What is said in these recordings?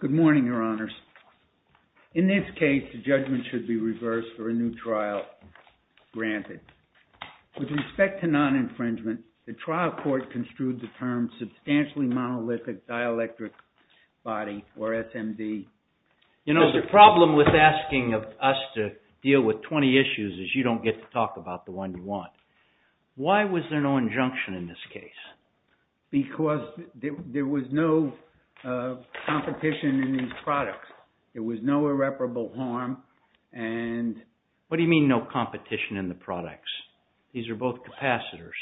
Good morning, Your Honors. In this case, the judgment should be reversed for a new trial granted. With respect to non-infringement, the trial court construed the term Substantially Monolithic Dielectric Body, or SMD. You know, the problem with asking us to deal with 20 issues is you don't get to talk about the one you want. Why was there no injunction in this case? Because there was no competition in these products. There was no irreparable harm. What do you mean no competition in the products? These are both capacitors.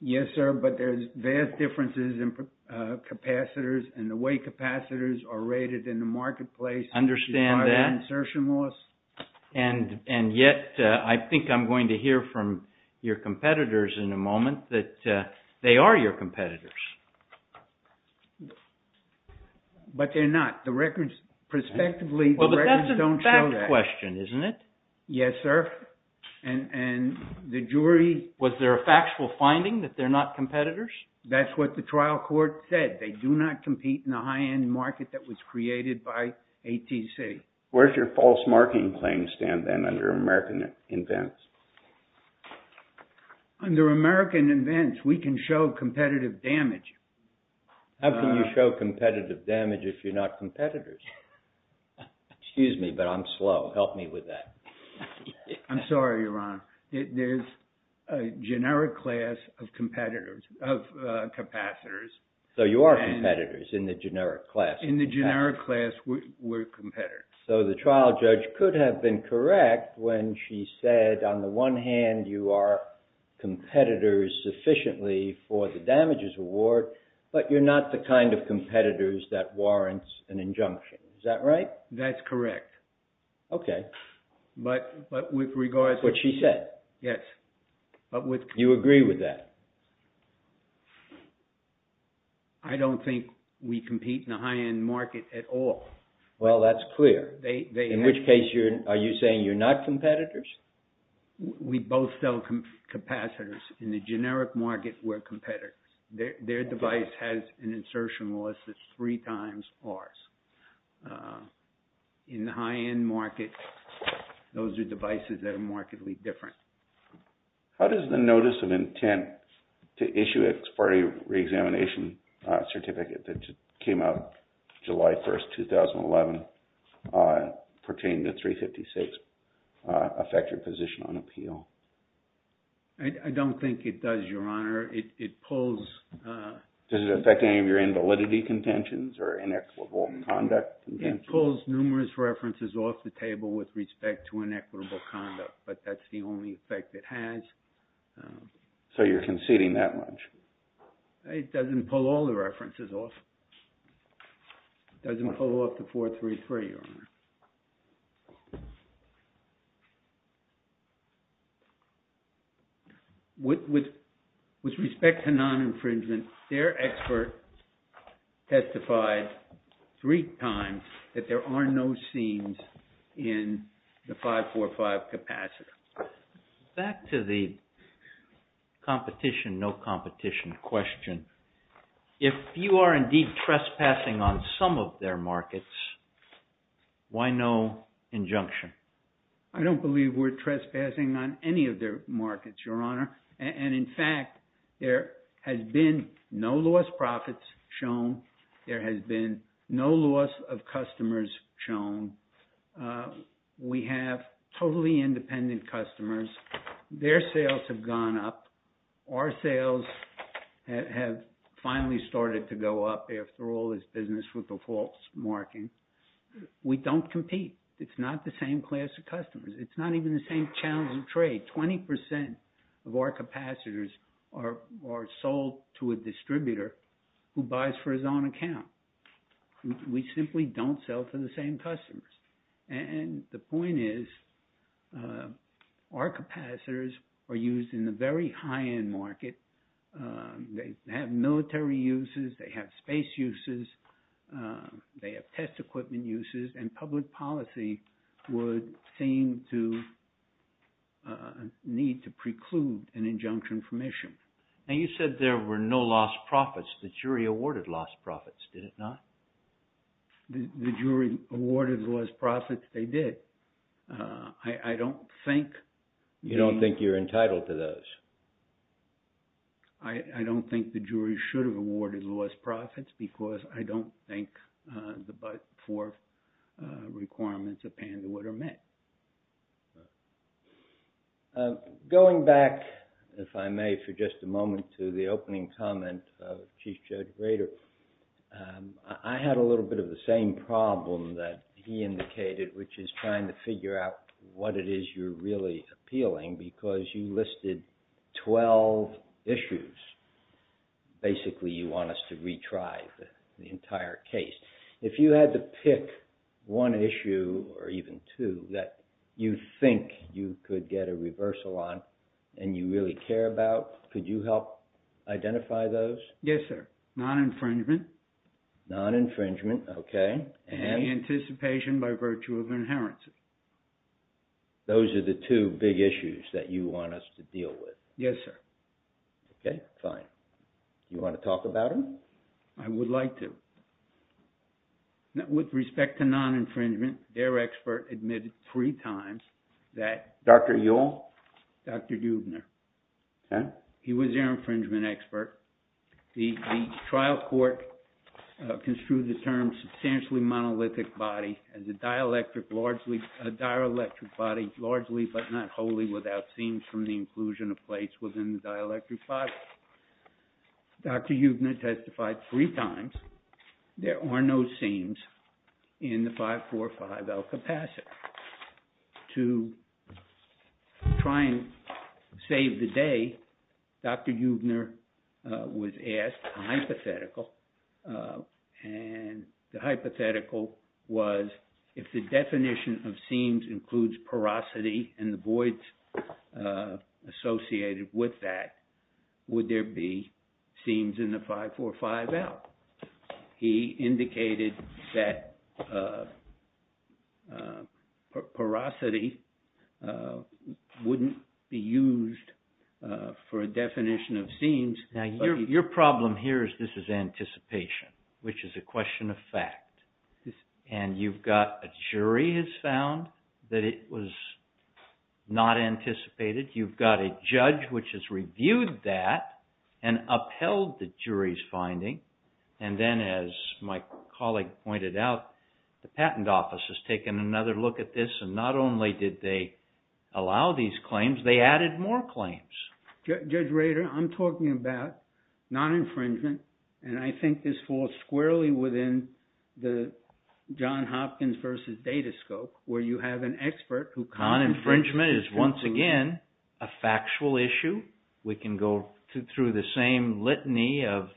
Yes, sir, but there's vast differences in capacitors and the way capacitors are rated in the marketplace. Understand that. And yet, I think I'm going to hear from your competitors in a moment that they are your competitors. But they're not. The records, prospectively, the records don't show that. Well, but that's a fact question, isn't it? Yes, sir. And the jury... Was there a factual finding that they're not competitors? That's what the trial court said. They do not compete in the high-end market that was created by ATC. Where's your false marketing claim stand, then, under American events? Under American events, we can show competitive damage. How can you show competitive damage if you're not competitors? Excuse me, but I'm slow. Help me with that. I'm sorry, Ron. There's a generic class of competitors, of capacitors. So you are competitors in the generic class. We're competitors. So the trial judge could have been correct when she said, on the one hand, you are competitors sufficiently for the damages award, but you're not the kind of competitors that warrants an injunction. Is that right? That's correct. Okay. But with regards... What she said. Yes. You agree with that? I don't think we compete in the high-end market at all. Well, that's clear. They... In which case, are you saying you're not competitors? We both sell capacitors. In the generic market, we're competitors. Their device has an insertion loss that's three times ours. In the high-end market, those are devices that are markedly different. How does the notice of intent to issue an expiry reexamination certificate that came out July 1st, 2011, pertaining to 356, affect your position on appeal? I don't think it does, Your Honor. It pulls... Does it affect any of your invalidity contentions or inequitable conduct? It pulls numerous references off the table with respect to inequitable conduct, but that's the only effect it has. So you're conceding that much? It doesn't pull all the references off. It doesn't pull off the 433, Your Honor. With respect to non-infringement, their expert testified three times that there are no scenes in the 545 capacitor. Back to the competition, no competition question. If you are indeed trespassing on some of their markets, why no injunction? I don't believe we're trespassing on any of their markets, Your Honor. And in fact, there has been no loss of profits shown. There has been no loss of customers shown. We have totally independent customers. Their sales have gone up. Our sales have finally started to go up after all this business with the false marking. We don't compete. It's not the same class of customers. It's not even the same challenge of trade. 20% of our capacitors are sold to a distributor who buys for his own account. We simply don't sell to the same customers. And the point is, our capacitors are used in the very high-end market. They have military uses, they have space uses, they have test equipment uses, and public policy would seem to need to preclude an injunction from issue. And you said there were no loss of profits. The jury awarded loss of profits, did it not? The jury awarded loss of profits. They did. I don't think... You don't think you're entitled to those? I don't think the jury should have awarded loss of profits because I don't think the four requirements of Pandewood are met. Going back, if I may, for just a moment, to the opening comment of Chief Judge Grader, I had a little bit of the same problem that he indicated, which is trying to figure out what it is you're really appealing because you listed 12 issues. Basically, you want us to retry the entire case. If you had to pick one issue or even two, that you think you could get a reversal on and you really care about, could you help identify those? Yes, sir. Non-infringement. Non-infringement, okay. And the anticipation by virtue of inheritance. Those are the two big issues that you want us to deal with. Yes, sir. Okay, fine. You want to talk about them? I would like to. With respect to non-infringement, their expert admitted three times that... Dr. Ewell? Dr. Eubner. He was their infringement expert. The trial court construed the term substantially monolithic body as a dielectric body, largely but not wholly, without scenes from the inclusion of plates within the dielectric body. Dr. Eubner testified three times, there are no seams in the 545L capacitor. To try and save the day, Dr. Eubner was asked a hypothetical. And the hypothetical was, if the definition of seams includes porosity and the voids associated with that, would there be seams in the 545L? He indicated that porosity wouldn't be used for a definition of seams. Now, your problem here is this is anticipation, which is a question of fact. And you've got a jury has found that it was not anticipated. You've got a judge which has reviewed that and upheld the jury's finding. And then as my colleague pointed out, the patent office has taken another look at this and not only did they allow these claims, they added more claims. Judge Rader, I'm talking about non-infringement and I think this falls squarely within the John Hopkins versus Datascope where you have an expert who... Non-infringement is once again a factual issue. We can go through the same litany of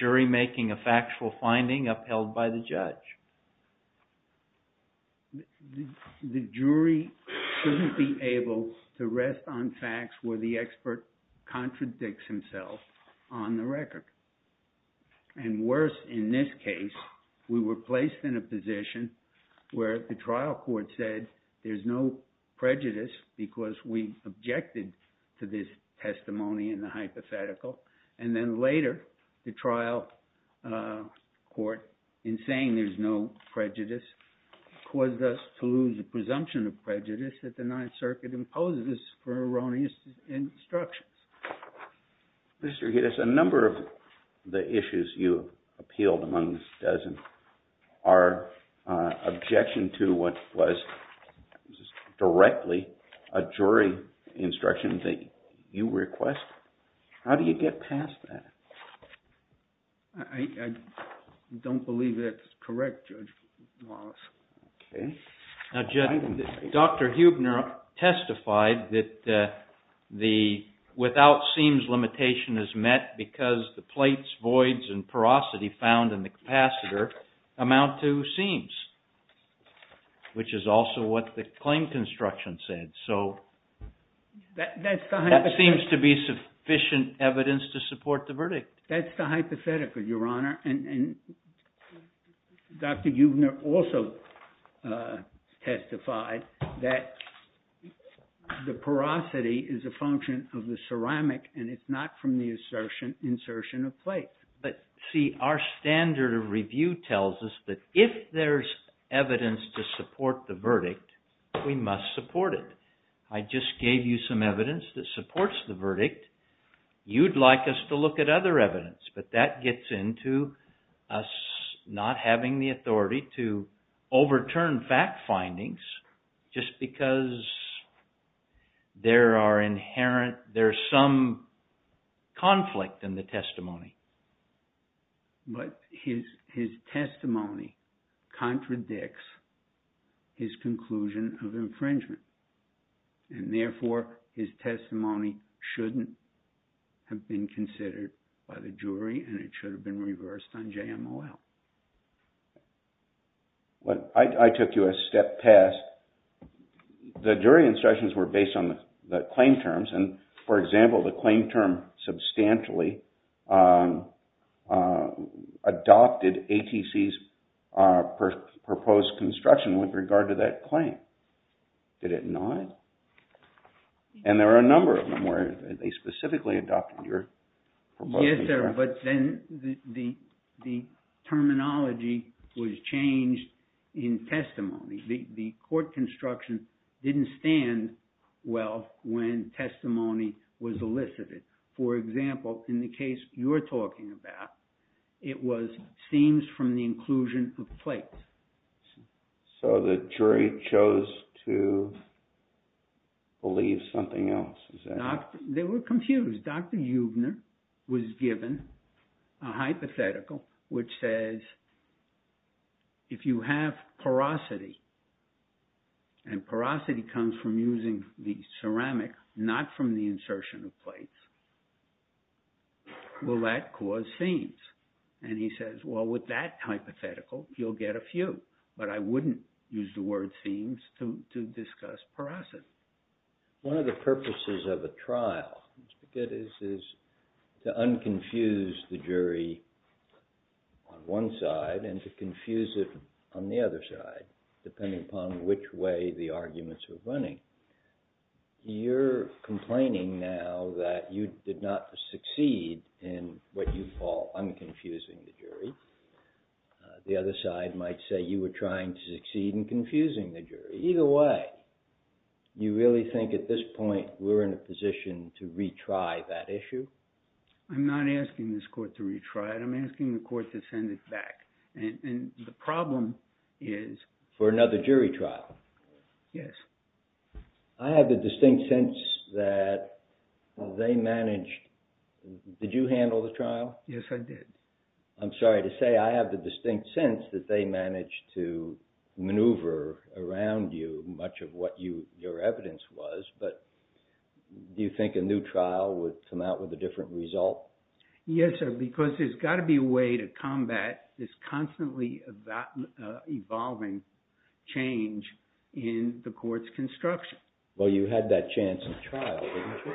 jury making a factual finding upheld by the judge. The jury shouldn't be able to rest on facts where the expert contradicts himself on the record. And worse, in this case, we were placed in a position where the trial court said there's no prejudice because we objected to this testimony in the hypothetical. And then later, the trial court, in saying there's no prejudice, caused us to lose the presumption of prejudice that the Ninth Circuit imposes for erroneous instructions. Mr. Giddes, a number of the issues you appealed among the dozen are objection to what was directly a jury instruction that you request. How do you get past that? I don't believe that's correct, Judge Wallace. Now, Judge, Dr. Huebner testified that the without seams limitation is met because the plates, voids, and porosity found in the capacitor amount to seams, which is also what the claim construction said. So that seems to be sufficient evidence to support the verdict. That's the hypothetical, Your Honor. And Dr. Huebner also testified that the porosity is a function of the ceramic, and it's not from the insertion of plates. But see, our standard of review tells us that if there's evidence to support the verdict, we must support it. I just gave you some evidence that supports the verdict. You'd like us to look at other evidence, but that gets into us not having the authority to overturn fact findings just because there are inherent, there's some conflict in the testimony. But his testimony contradicts his conclusion of infringement. And therefore, his testimony shouldn't have been considered by the jury, and it should have been reversed on JMOL. I took you a step past. The jury instructions were based on the claim terms, and for example, the claim term substantially adopted ATC's proposed construction with regard to that claim. Did it not? And there are a number of them where they specifically adopted your proposed construction. Yes, sir, but then the terminology was changed in testimony. The court construction didn't stand well when testimony was elicited. For example, in the case you're talking about, it was scenes from the inclusion of plates. So the jury chose to believe something else. They were confused. Dr. Huebner was given a hypothetical which says if you have porosity, and porosity comes from using the ceramic, not from the insertion of plates, will that cause scenes? And he says, well, with that hypothetical, you'll get a few, but I wouldn't use the word scenes to discuss porosity. One of the purposes of a trial is to unconfuse the jury on one side and to confuse it on the other side, depending upon which way the arguments are running. You're complaining now that you did not succeed in what you call unconfusing the jury. The other side might say you were trying to succeed in confusing the jury. Either way, you really think at this point we're in a position to retry that issue? I'm not asking this court to retry it. I'm asking the court to send it back. And the problem is... For another jury trial? Yes. I have the distinct sense that they managed... Did you handle the trial? Yes, I did. I'm sorry to say, I have the distinct sense that they managed to maneuver around you much of what your evidence was, but do you think a new trial would come out with a different result? Yes, sir, because there's got to be a way to combat this constantly evolving change in the court's construction. Well, you had that chance in trial, didn't you?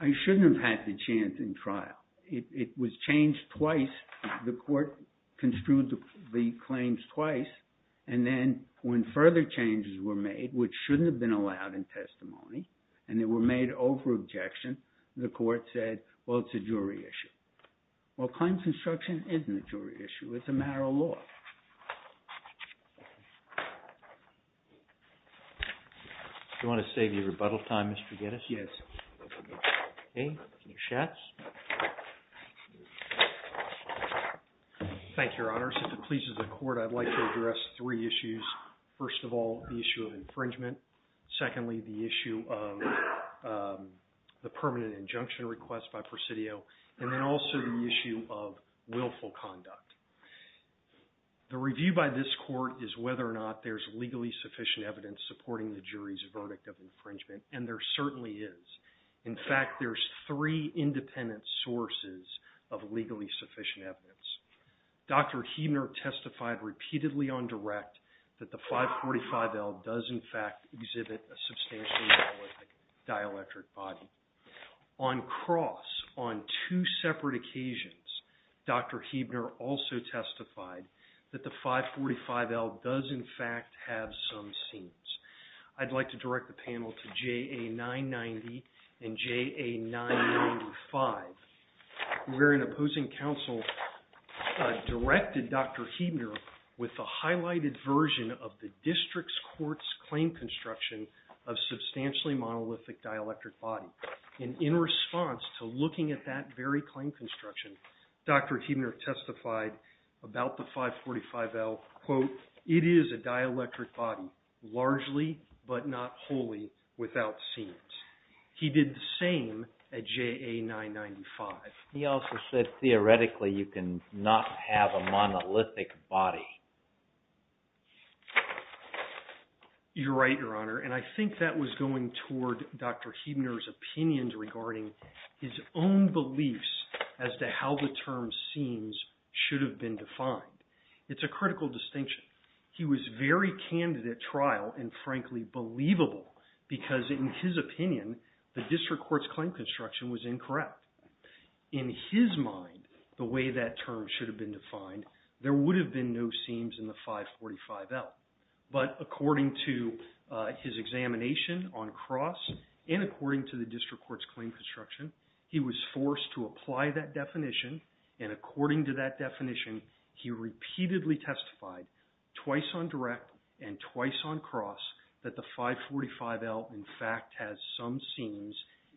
I shouldn't have had the chance in trial. It was changed twice. The court construed the claims twice, and then when further changes were made, which shouldn't have been allowed in testimony, and they were made over objection, the court said, well, it's a jury issue. Well, claims construction isn't a jury issue. It's a matter of law. Do you want to save your rebuttal time, Mr. Geddes? Yes. Okay, any chats? Thank you, Your Honor. If it pleases the court, I'd like to address three issues. First of all, the issue of infringement. Secondly, the issue of the permanent injunction request by Presidio, and then also the issue of willful conduct. The review by this court is whether or not there's legally sufficient evidence supporting the jury's verdict of infringement, and there certainly is. In fact, there's three independent sources of legally sufficient evidence. Dr. Huebner testified repeatedly on direct that the 545L does, in fact, exhibit a substantially dielectric body. On cross, on two separate occasions, Dr. Huebner also testified that the 545L does, in fact, have some seams. I'd like to direct the panel to JA 990 and JA 995, where an opposing counsel directed Dr. Huebner with the highlighted version of the district's court's claim construction of substantially monolithic dielectric body. In response to looking at that very claim construction, Dr. Huebner testified about the 545L, quote, it is a dielectric body, largely, but not wholly, without seams. He did the same at JA 995. He also said, theoretically, you can not have a monolithic body. You're right, Your Honor, and I think that was going toward Dr. Huebner's opinions regarding his own beliefs as to how the term seams should have been defined. It's a critical distinction. He was very candid at trial and, frankly, believable because, in his opinion, the district court's claim construction was incorrect. In his mind, the way that term should have been defined, there would have been no seams in the 545L. But according to his examination on cross and according to the district court's claim construction, he was forced to apply that definition. And according to that definition, he repeatedly testified twice on direct and twice on cross that the 545L, in fact, has some seams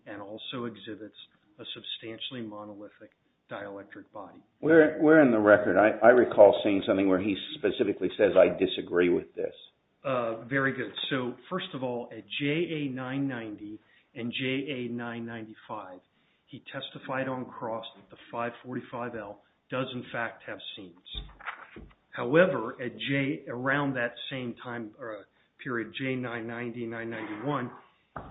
and also exhibits a substantially monolithic dielectric body. Where in the record? I recall seeing something where he specifically says, I disagree with this. Very good. So first of all, at JA 990 and JA 995, he testified on cross that the 545L does, in fact, have seams. However, at JA around that same time period, JA 990, 991,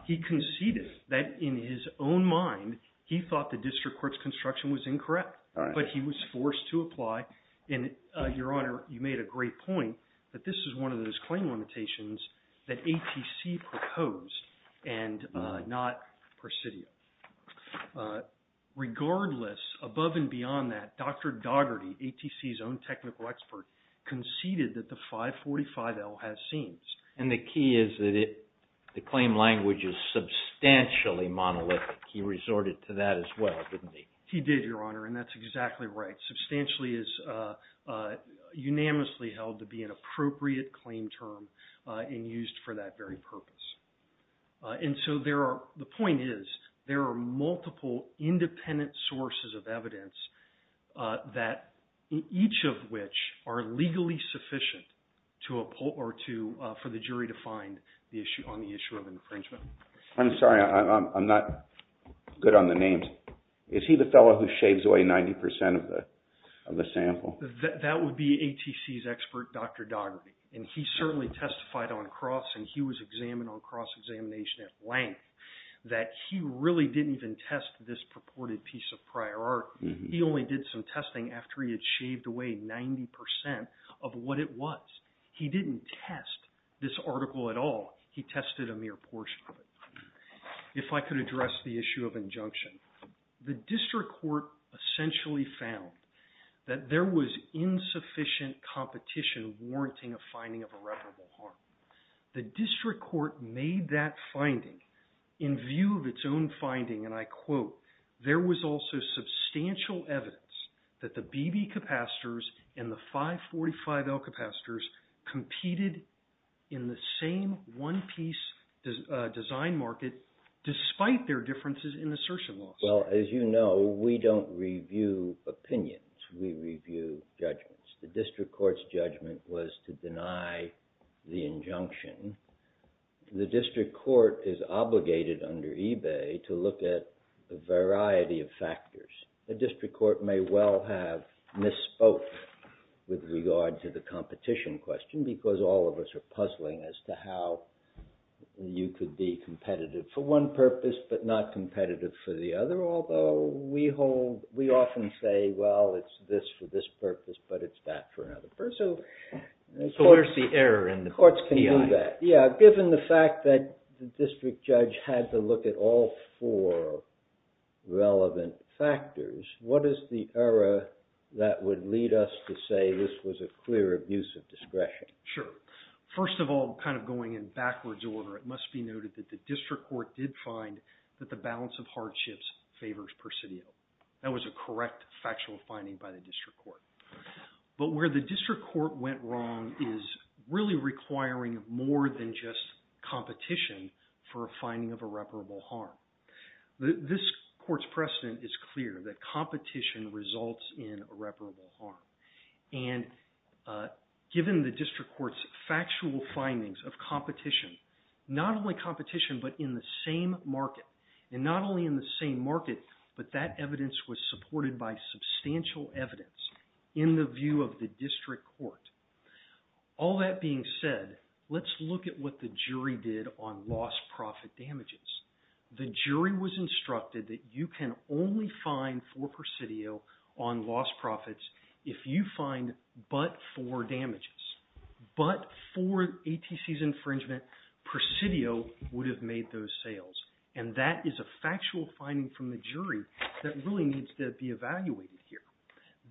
he conceded that, in his own mind, he thought the district court's construction was incorrect. But he was forced to apply. And, Your Honor, you made a great point that this is one of those claim limitations that ATC proposed and not Presidio. Regardless, above and beyond that, Dr. Dougherty, ATC's own technical expert, conceded that the 545L has seams. And the key is that the claim language is substantially monolithic. He resorted to that as well, didn't he? He did, Your Honor. And that's exactly right. Substantially is unanimously held to be an appropriate claim term and used for that very purpose. And so the point is, there are multiple independent sources of evidence that each of which are legally sufficient for the jury to find on the issue of infringement. I'm sorry. I'm not good on the names. Is he the fellow who shaves away 90% of the sample? That would be ATC's expert, Dr. Dougherty. And he certainly testified on cross and he was examined on cross-examination at length that he really didn't even test this purported piece of prior art. He only did some testing after he had shaved away 90% of what it was. He didn't test this article at all. He tested a mere portion of it. If I could address the issue of injunction. The district court essentially found that there was insufficient competition warranting a finding of irreparable harm. The district court made that finding in view of its own finding and I quote, there was also substantial evidence that the BB capacitors and the 545L capacitors competed in the same one piece design market despite their differences in assertion laws. Well, as you know, we don't review opinions. We review judgments. The district court's judgment was to deny the injunction. The district court is obligated under eBay to look at a variety of factors. The district court may well have misspoke with regard to the competition question because all of us are puzzling as to how you could be competitive for one purpose but not competitive for the other. Although we often say, well, it's this for this purpose, but it's that for another purpose. So where's the error in the PI? Courts can do that. Yeah, given the fact that the district judge had to look at all four relevant factors, what is the error that would lead us to say this was a clear abuse of discretion? Sure. First of all, kind of going in backwards order, it must be noted that the district court did find that the balance of hardships favors persidio. That was a correct factual finding by the district court. But where the district court went wrong is really requiring more than just competition for a finding of irreparable harm. This court's precedent is clear that competition results in irreparable harm. And given the district court's factual findings of competition, not only competition but in the same market, and not only in the same market, but that evidence was supported by substantial evidence in the view of the district court. All that being said, let's look at what the jury did on lost profit damages. The jury was instructed that you can only find for persidio on lost profits if you find but for damages. But for ATC's infringement, persidio would have made those sales. And that is a factual finding from the jury that really needs to be evaluated here.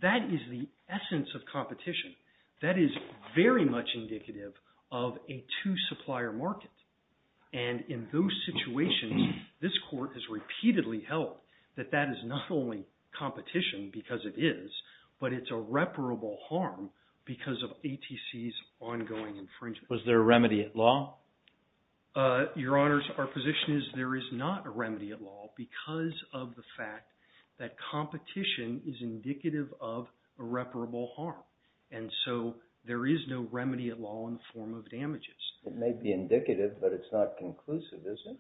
That is the essence of competition. That is very much indicative of a two supplier market. And in those situations, this court has repeatedly held that that is not only competition because it is, but it's irreparable harm because of ATC's ongoing infringement. Was there a remedy at law? Your Honors, our position is there is not a remedy at law because of the fact that competition is indicative of irreparable harm. And so there is no remedy at law in the form of damages. It may be indicative, but it's not conclusive, is it?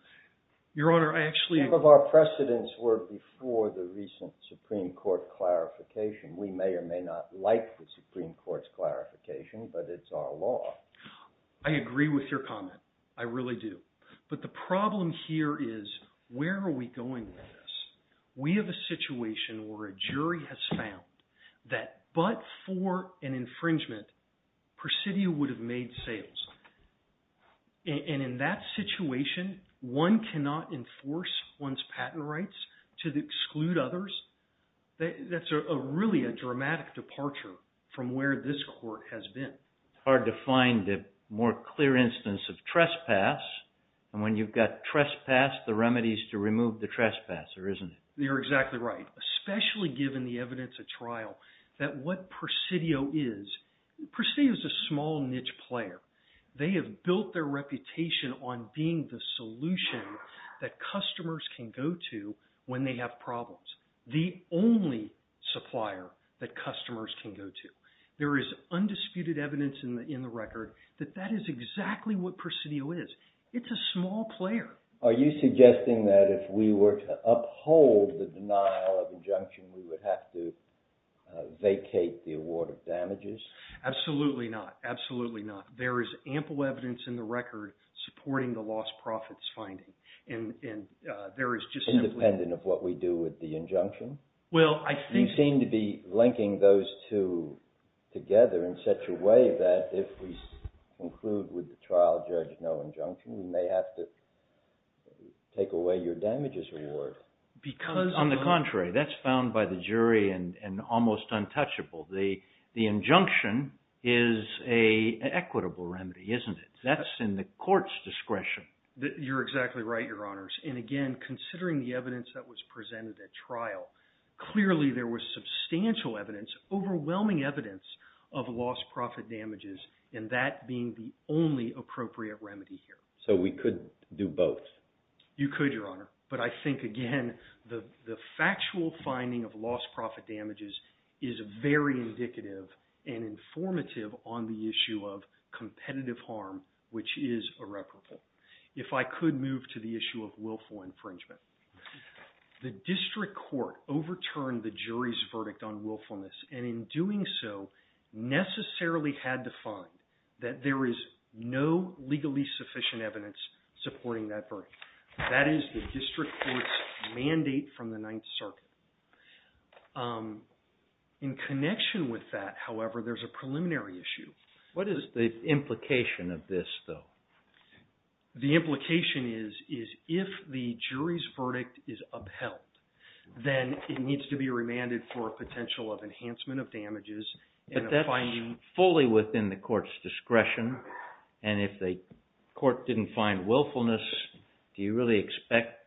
Your Honor, I actually Some of our precedents were before the recent Supreme Court clarification. We may or may not like the Supreme Court's clarification, but it's our law. I agree with your comment. I really do. But the problem here is, where are we going with this? We have a situation where a jury has found that but for an infringement, persidio would have made sales. And in that situation, one cannot enforce one's patent rights to exclude others. That's really a dramatic departure from where this court has been. It's hard to find a more clear instance of trespass. And when you've got trespass, the remedy is to remove the trespasser, isn't it? You're exactly right, especially given the evidence at trial that what persidio is. Persidio is a small niche player. They have built their reputation on being the solution that customers can go to when they have problems. The only supplier that customers can go to. There is undisputed evidence in the record that that is exactly what persidio is. It's a small player. Are you suggesting that if we were to uphold the denial of injunction, we would have to vacate the award of damages? Absolutely not. Absolutely not. There is ample evidence in the record supporting the lost profits finding. Independent of what we do with the injunction? You seem to be linking those two together in such a way that if we conclude with the trial judge no injunction, we may have to take away your damages award. On the contrary, that's found by the jury and almost untouchable. The injunction is an equitable remedy, isn't it? That's in the court's discretion. You're exactly right, Your Honors. And again, considering the evidence that was presented at trial, clearly there was substantial evidence, overwhelming evidence of lost profit damages and that being the only appropriate remedy here. So we could do both? You could, Your Honor. But I think, again, the factual finding of lost profit damages is very indicative and informative on the issue of competitive harm, which is irreparable. If I could move to the issue of willful infringement. The district court overturned the jury's verdict on willfulness and in doing so, necessarily had to find that there is no legally sufficient evidence supporting that verdict. That is the district court's mandate from the Ninth Circuit. In connection with that, however, there's a preliminary issue. What is the implication of this, though? The implication is if the jury's verdict is upheld, then it needs to be remanded for a potential of enhancement of damages and a finding. But that's fully within the court's discretion and if the court didn't find willfulness, do you really expect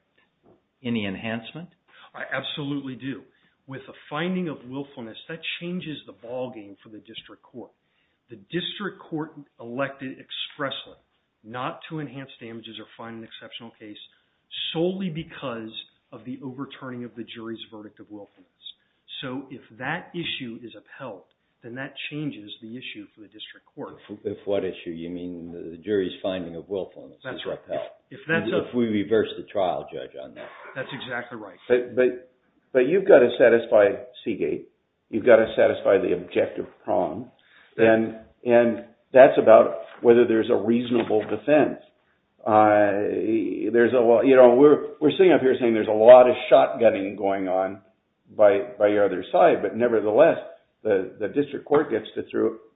any enhancement? I absolutely do. With a finding of willfulness, that The district court elected expressly not to enhance damages or find an exceptional case solely because of the overturning of the jury's verdict of willfulness. So if that issue is upheld, then that changes the issue for the district court. If what issue? You mean the jury's finding of willfulness is upheld? That's right. If we reverse the trial, Judge, on that. That's exactly right. But you've got to satisfy Seagate. You've got to satisfy the objective prong. And that's about whether there's a reasonable defense. We're sitting up here saying there's a lot of shotgunning going on by your other side. But nevertheless, the district court gets to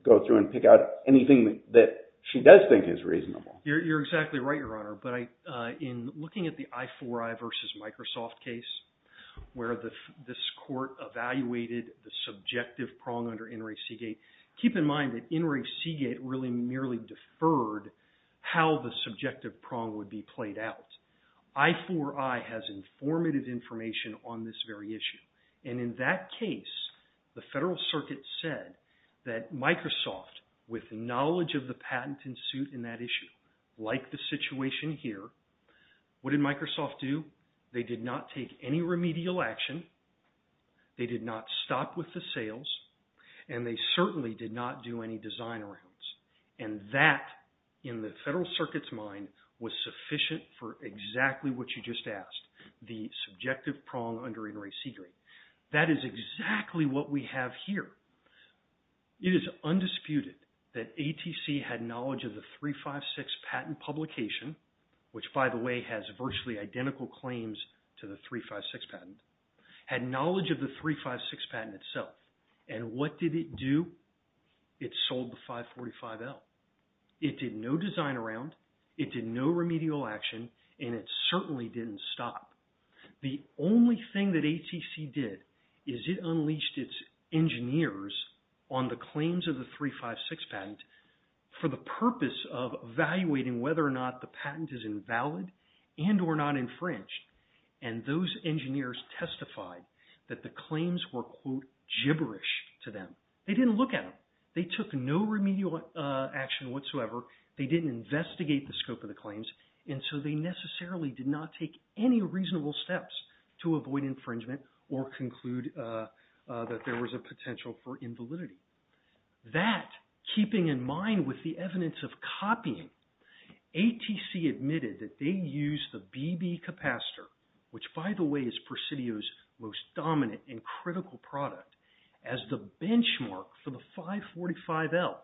go through and pick out anything that she does think is reasonable. You're exactly right, Your Honor. But in looking at the I4I versus Microsoft case, where this court evaluated the subjective prong under Inouye Seagate, keep in mind that Inouye Seagate really merely deferred how the subjective prong would be played out. I4I has informative information on this very issue. And in that case, the Federal Circuit said that Microsoft, with knowledge of the patent in suit in that issue, like the situation here, what did Microsoft do? They did not take any remedial action. They did not stop with the sales. And they certainly did not do any design arounds. And that, in the Federal Circuit's mind, was sufficient for exactly what you just asked, the subjective prong under Inouye Seagate. That is exactly what we have here. It is undisputed that ATC had knowledge of the 356 patent publication, which, by the way, has virtually identical claims to the 356 patent, had knowledge of the 356 patent itself. And what did it do? It sold the 545L. It did no design around. It did no remedial action. And it certainly didn't stop. The only thing that ATC did is it unleashed its engineers on the claims of the 356 patent for the purpose of evaluating whether or not the patent is invalid and or not infringed. And those engineers testified that the claims were, quote, gibberish to them. They didn't look at them. They took no remedial action whatsoever. They didn't investigate the scope of the claims. And so they necessarily did not take any reasonable steps to avoid infringement or conclude that there was a potential for invalidity. That, keeping in mind with the evidence of copying, ATC admitted that they used the BB capacitor, which, by the way, is Presidio's most dominant and critical product, as the benchmark for the 545L.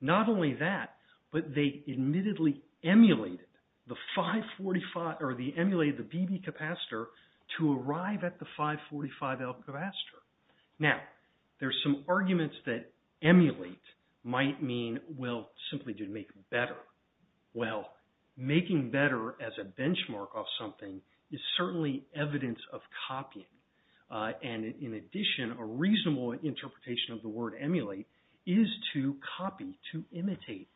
Not only that, but they admittedly emulated the 545, or they emulated the BB capacitor to arrive at the 545L capacitor. Now, there's some arguments that emulate might mean, well, simply to make it better. Well, making better as a benchmark of something is certainly evidence of copying. And in addition, a reasonable interpretation of the word emulate is to copy, to imitate.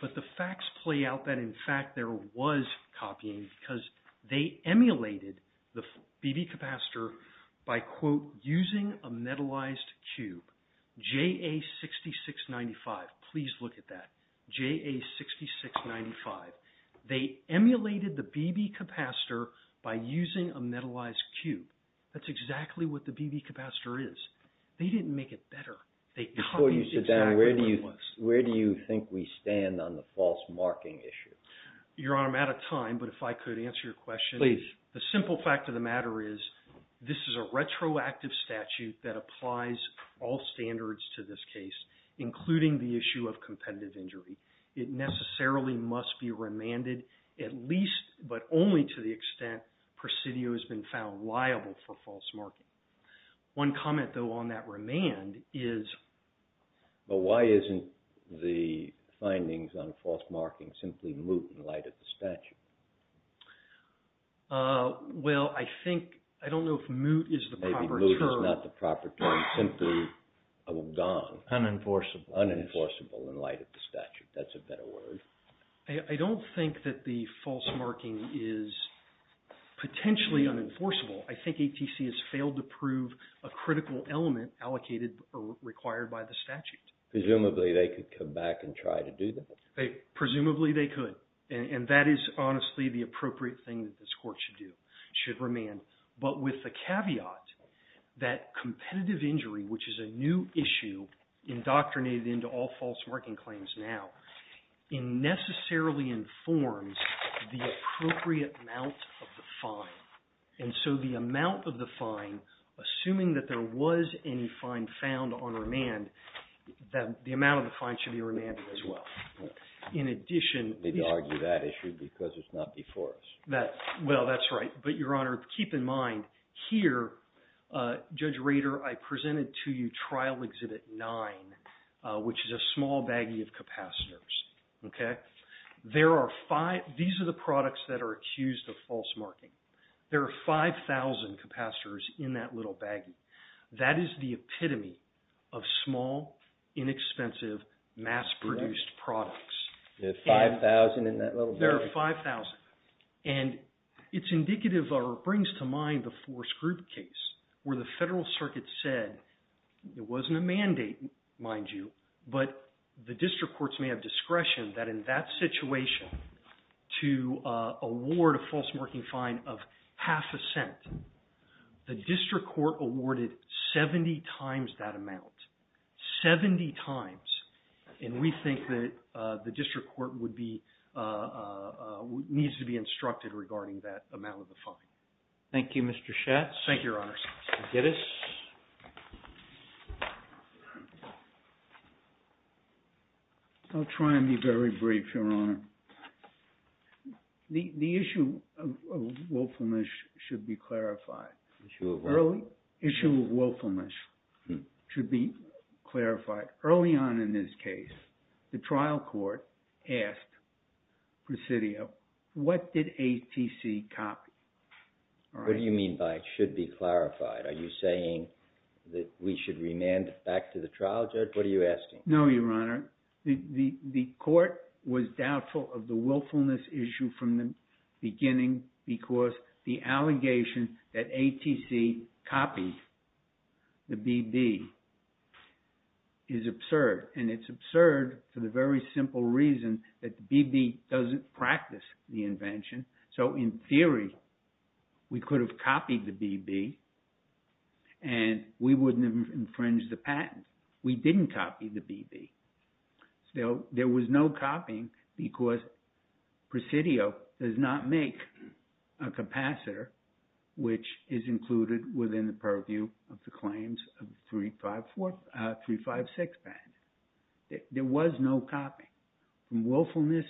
But the facts play out that, in fact, there was copying because they emulated the BB capacitor by, quote, using a metallized cube, JA6695. Please look at that, JA6695. They emulated the BB capacitor by using a metallized cube. That's exactly what the BB capacitor is. They didn't make it better. They copied exactly what it was. Before you sit down, where do you think we stand on the false marking issue? Your Honor, I'm out of time, but if I could answer your question. Please. The simple fact of the matter is this is a retroactive statute that applies all standards to this case, including the issue of competitive injury. It necessarily must be remanded at least, but only to the extent, presidio has been found liable for false marking. One comment, though, on that remand is, well, why isn't the findings on false marking simply moot in light of the statute? Well, I think, I don't know if moot is the proper term. Maybe moot is not the proper term. Simply a gone. Unenforceable. Unenforceable in light of the statute. That's a better word. I don't think that the false marking is potentially unenforceable. I think ATC has failed to prove a critical element allocated or required by the statute. Presumably, they could come back and try to do that. Presumably, they could. And that is, honestly, the appropriate thing that this court should do, should remand. But with the caveat that competitive injury, which is a new issue indoctrinated into all false marking claims now, it necessarily informs the appropriate amount of the fine. And so the amount of the fine, assuming that there was any fine found on remand, the amount of the fine should be remanded as well. In addition, They'd argue that issue because it's not before us. Well, that's right. But Your Honor, keep in mind, here, Judge Rader, I presented to you Trial Exhibit 9, which is a small baggie of capacitors. These are the products that are accused of false marking. There are 5,000 capacitors in that little baggie. That is the epitome of small, inexpensive, mass-produced products. There are 5,000 in that little baggie. There are 5,000. And it's indicative, or it brings to mind, the Force Group case, where the Federal Circuit said, it wasn't a mandate, mind you, but the district courts may have discretion that, in that situation, to award a false marking fine of half a cent. The district court awarded 70 times that amount. 70 times. And we think that the district court would be, needs to be instructed regarding that amount of the fine. Thank you, Mr. Schatz. Thank you, Your Honor. Mr. Giddes. I'll try and be very brief, Your Honor. The issue of willfulness should be clarified. Issue of what? Issue of willfulness should be clarified. Early on in this case, the trial court asked Presidio, what did ATC copy? What do you mean by should be clarified? Are you saying that we should remand it back to the trial judge? What are you asking? No, Your Honor. The court was doubtful of the willfulness issue from the beginning because the allegation that ATC copied the BB is absurd. And it's absurd for the very simple reason that the BB doesn't practice the invention. So in theory, we could have copied the BB and we wouldn't have infringed the patent. We didn't copy the BB. There was no copying because Presidio does not make a capacitor which is included within the purview of the claims of 356 patent. There was no copying. Willfulness.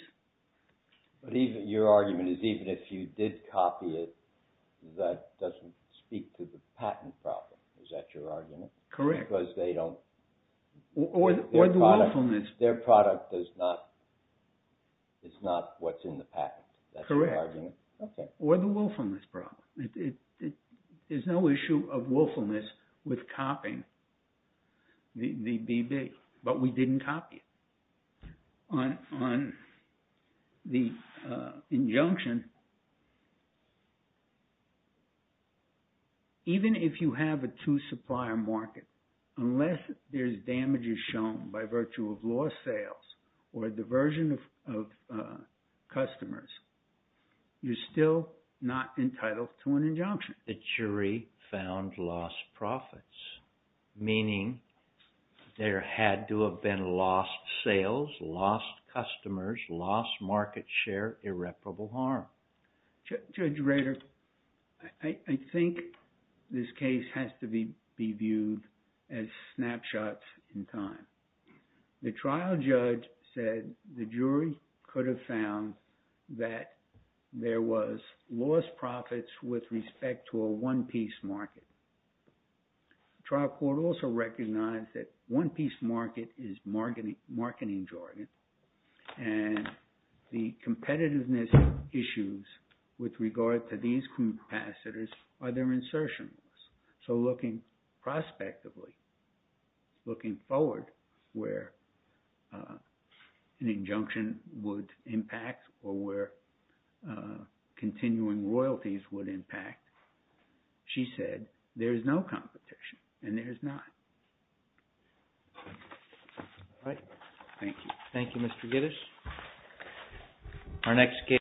But your argument is even if you did copy it, that doesn't speak to the patent problem. Is that your argument? Correct. Or the willfulness. Their product is not what's in the patent. That's the argument. Correct. Or the willfulness problem. There's no issue of willfulness with copying the BB. But we didn't copy it. On the injunction, even if you have a two supplier market, unless there's damages shown by virtue of lost sales or a diversion of customers, you're still not entitled to an injunction. The jury found lost profits, meaning there had to have been lost sales, lost customers, lost market share, irreparable harm. Judge Rader, I think this case has to be viewed as snapshots in time. The trial judge said the jury could have found that there was lost profits with respect to a one piece market. The trial court also recognized that one piece market is marketing jargon. And the competitiveness issues with regard to these capacitors are their insertions. So looking prospectively, looking forward where an injunction would impact or where continuing royalties would impact, she said there is no competition. And there is not. All right. Thank you. Thank you, Mr. Gittes. Our next case.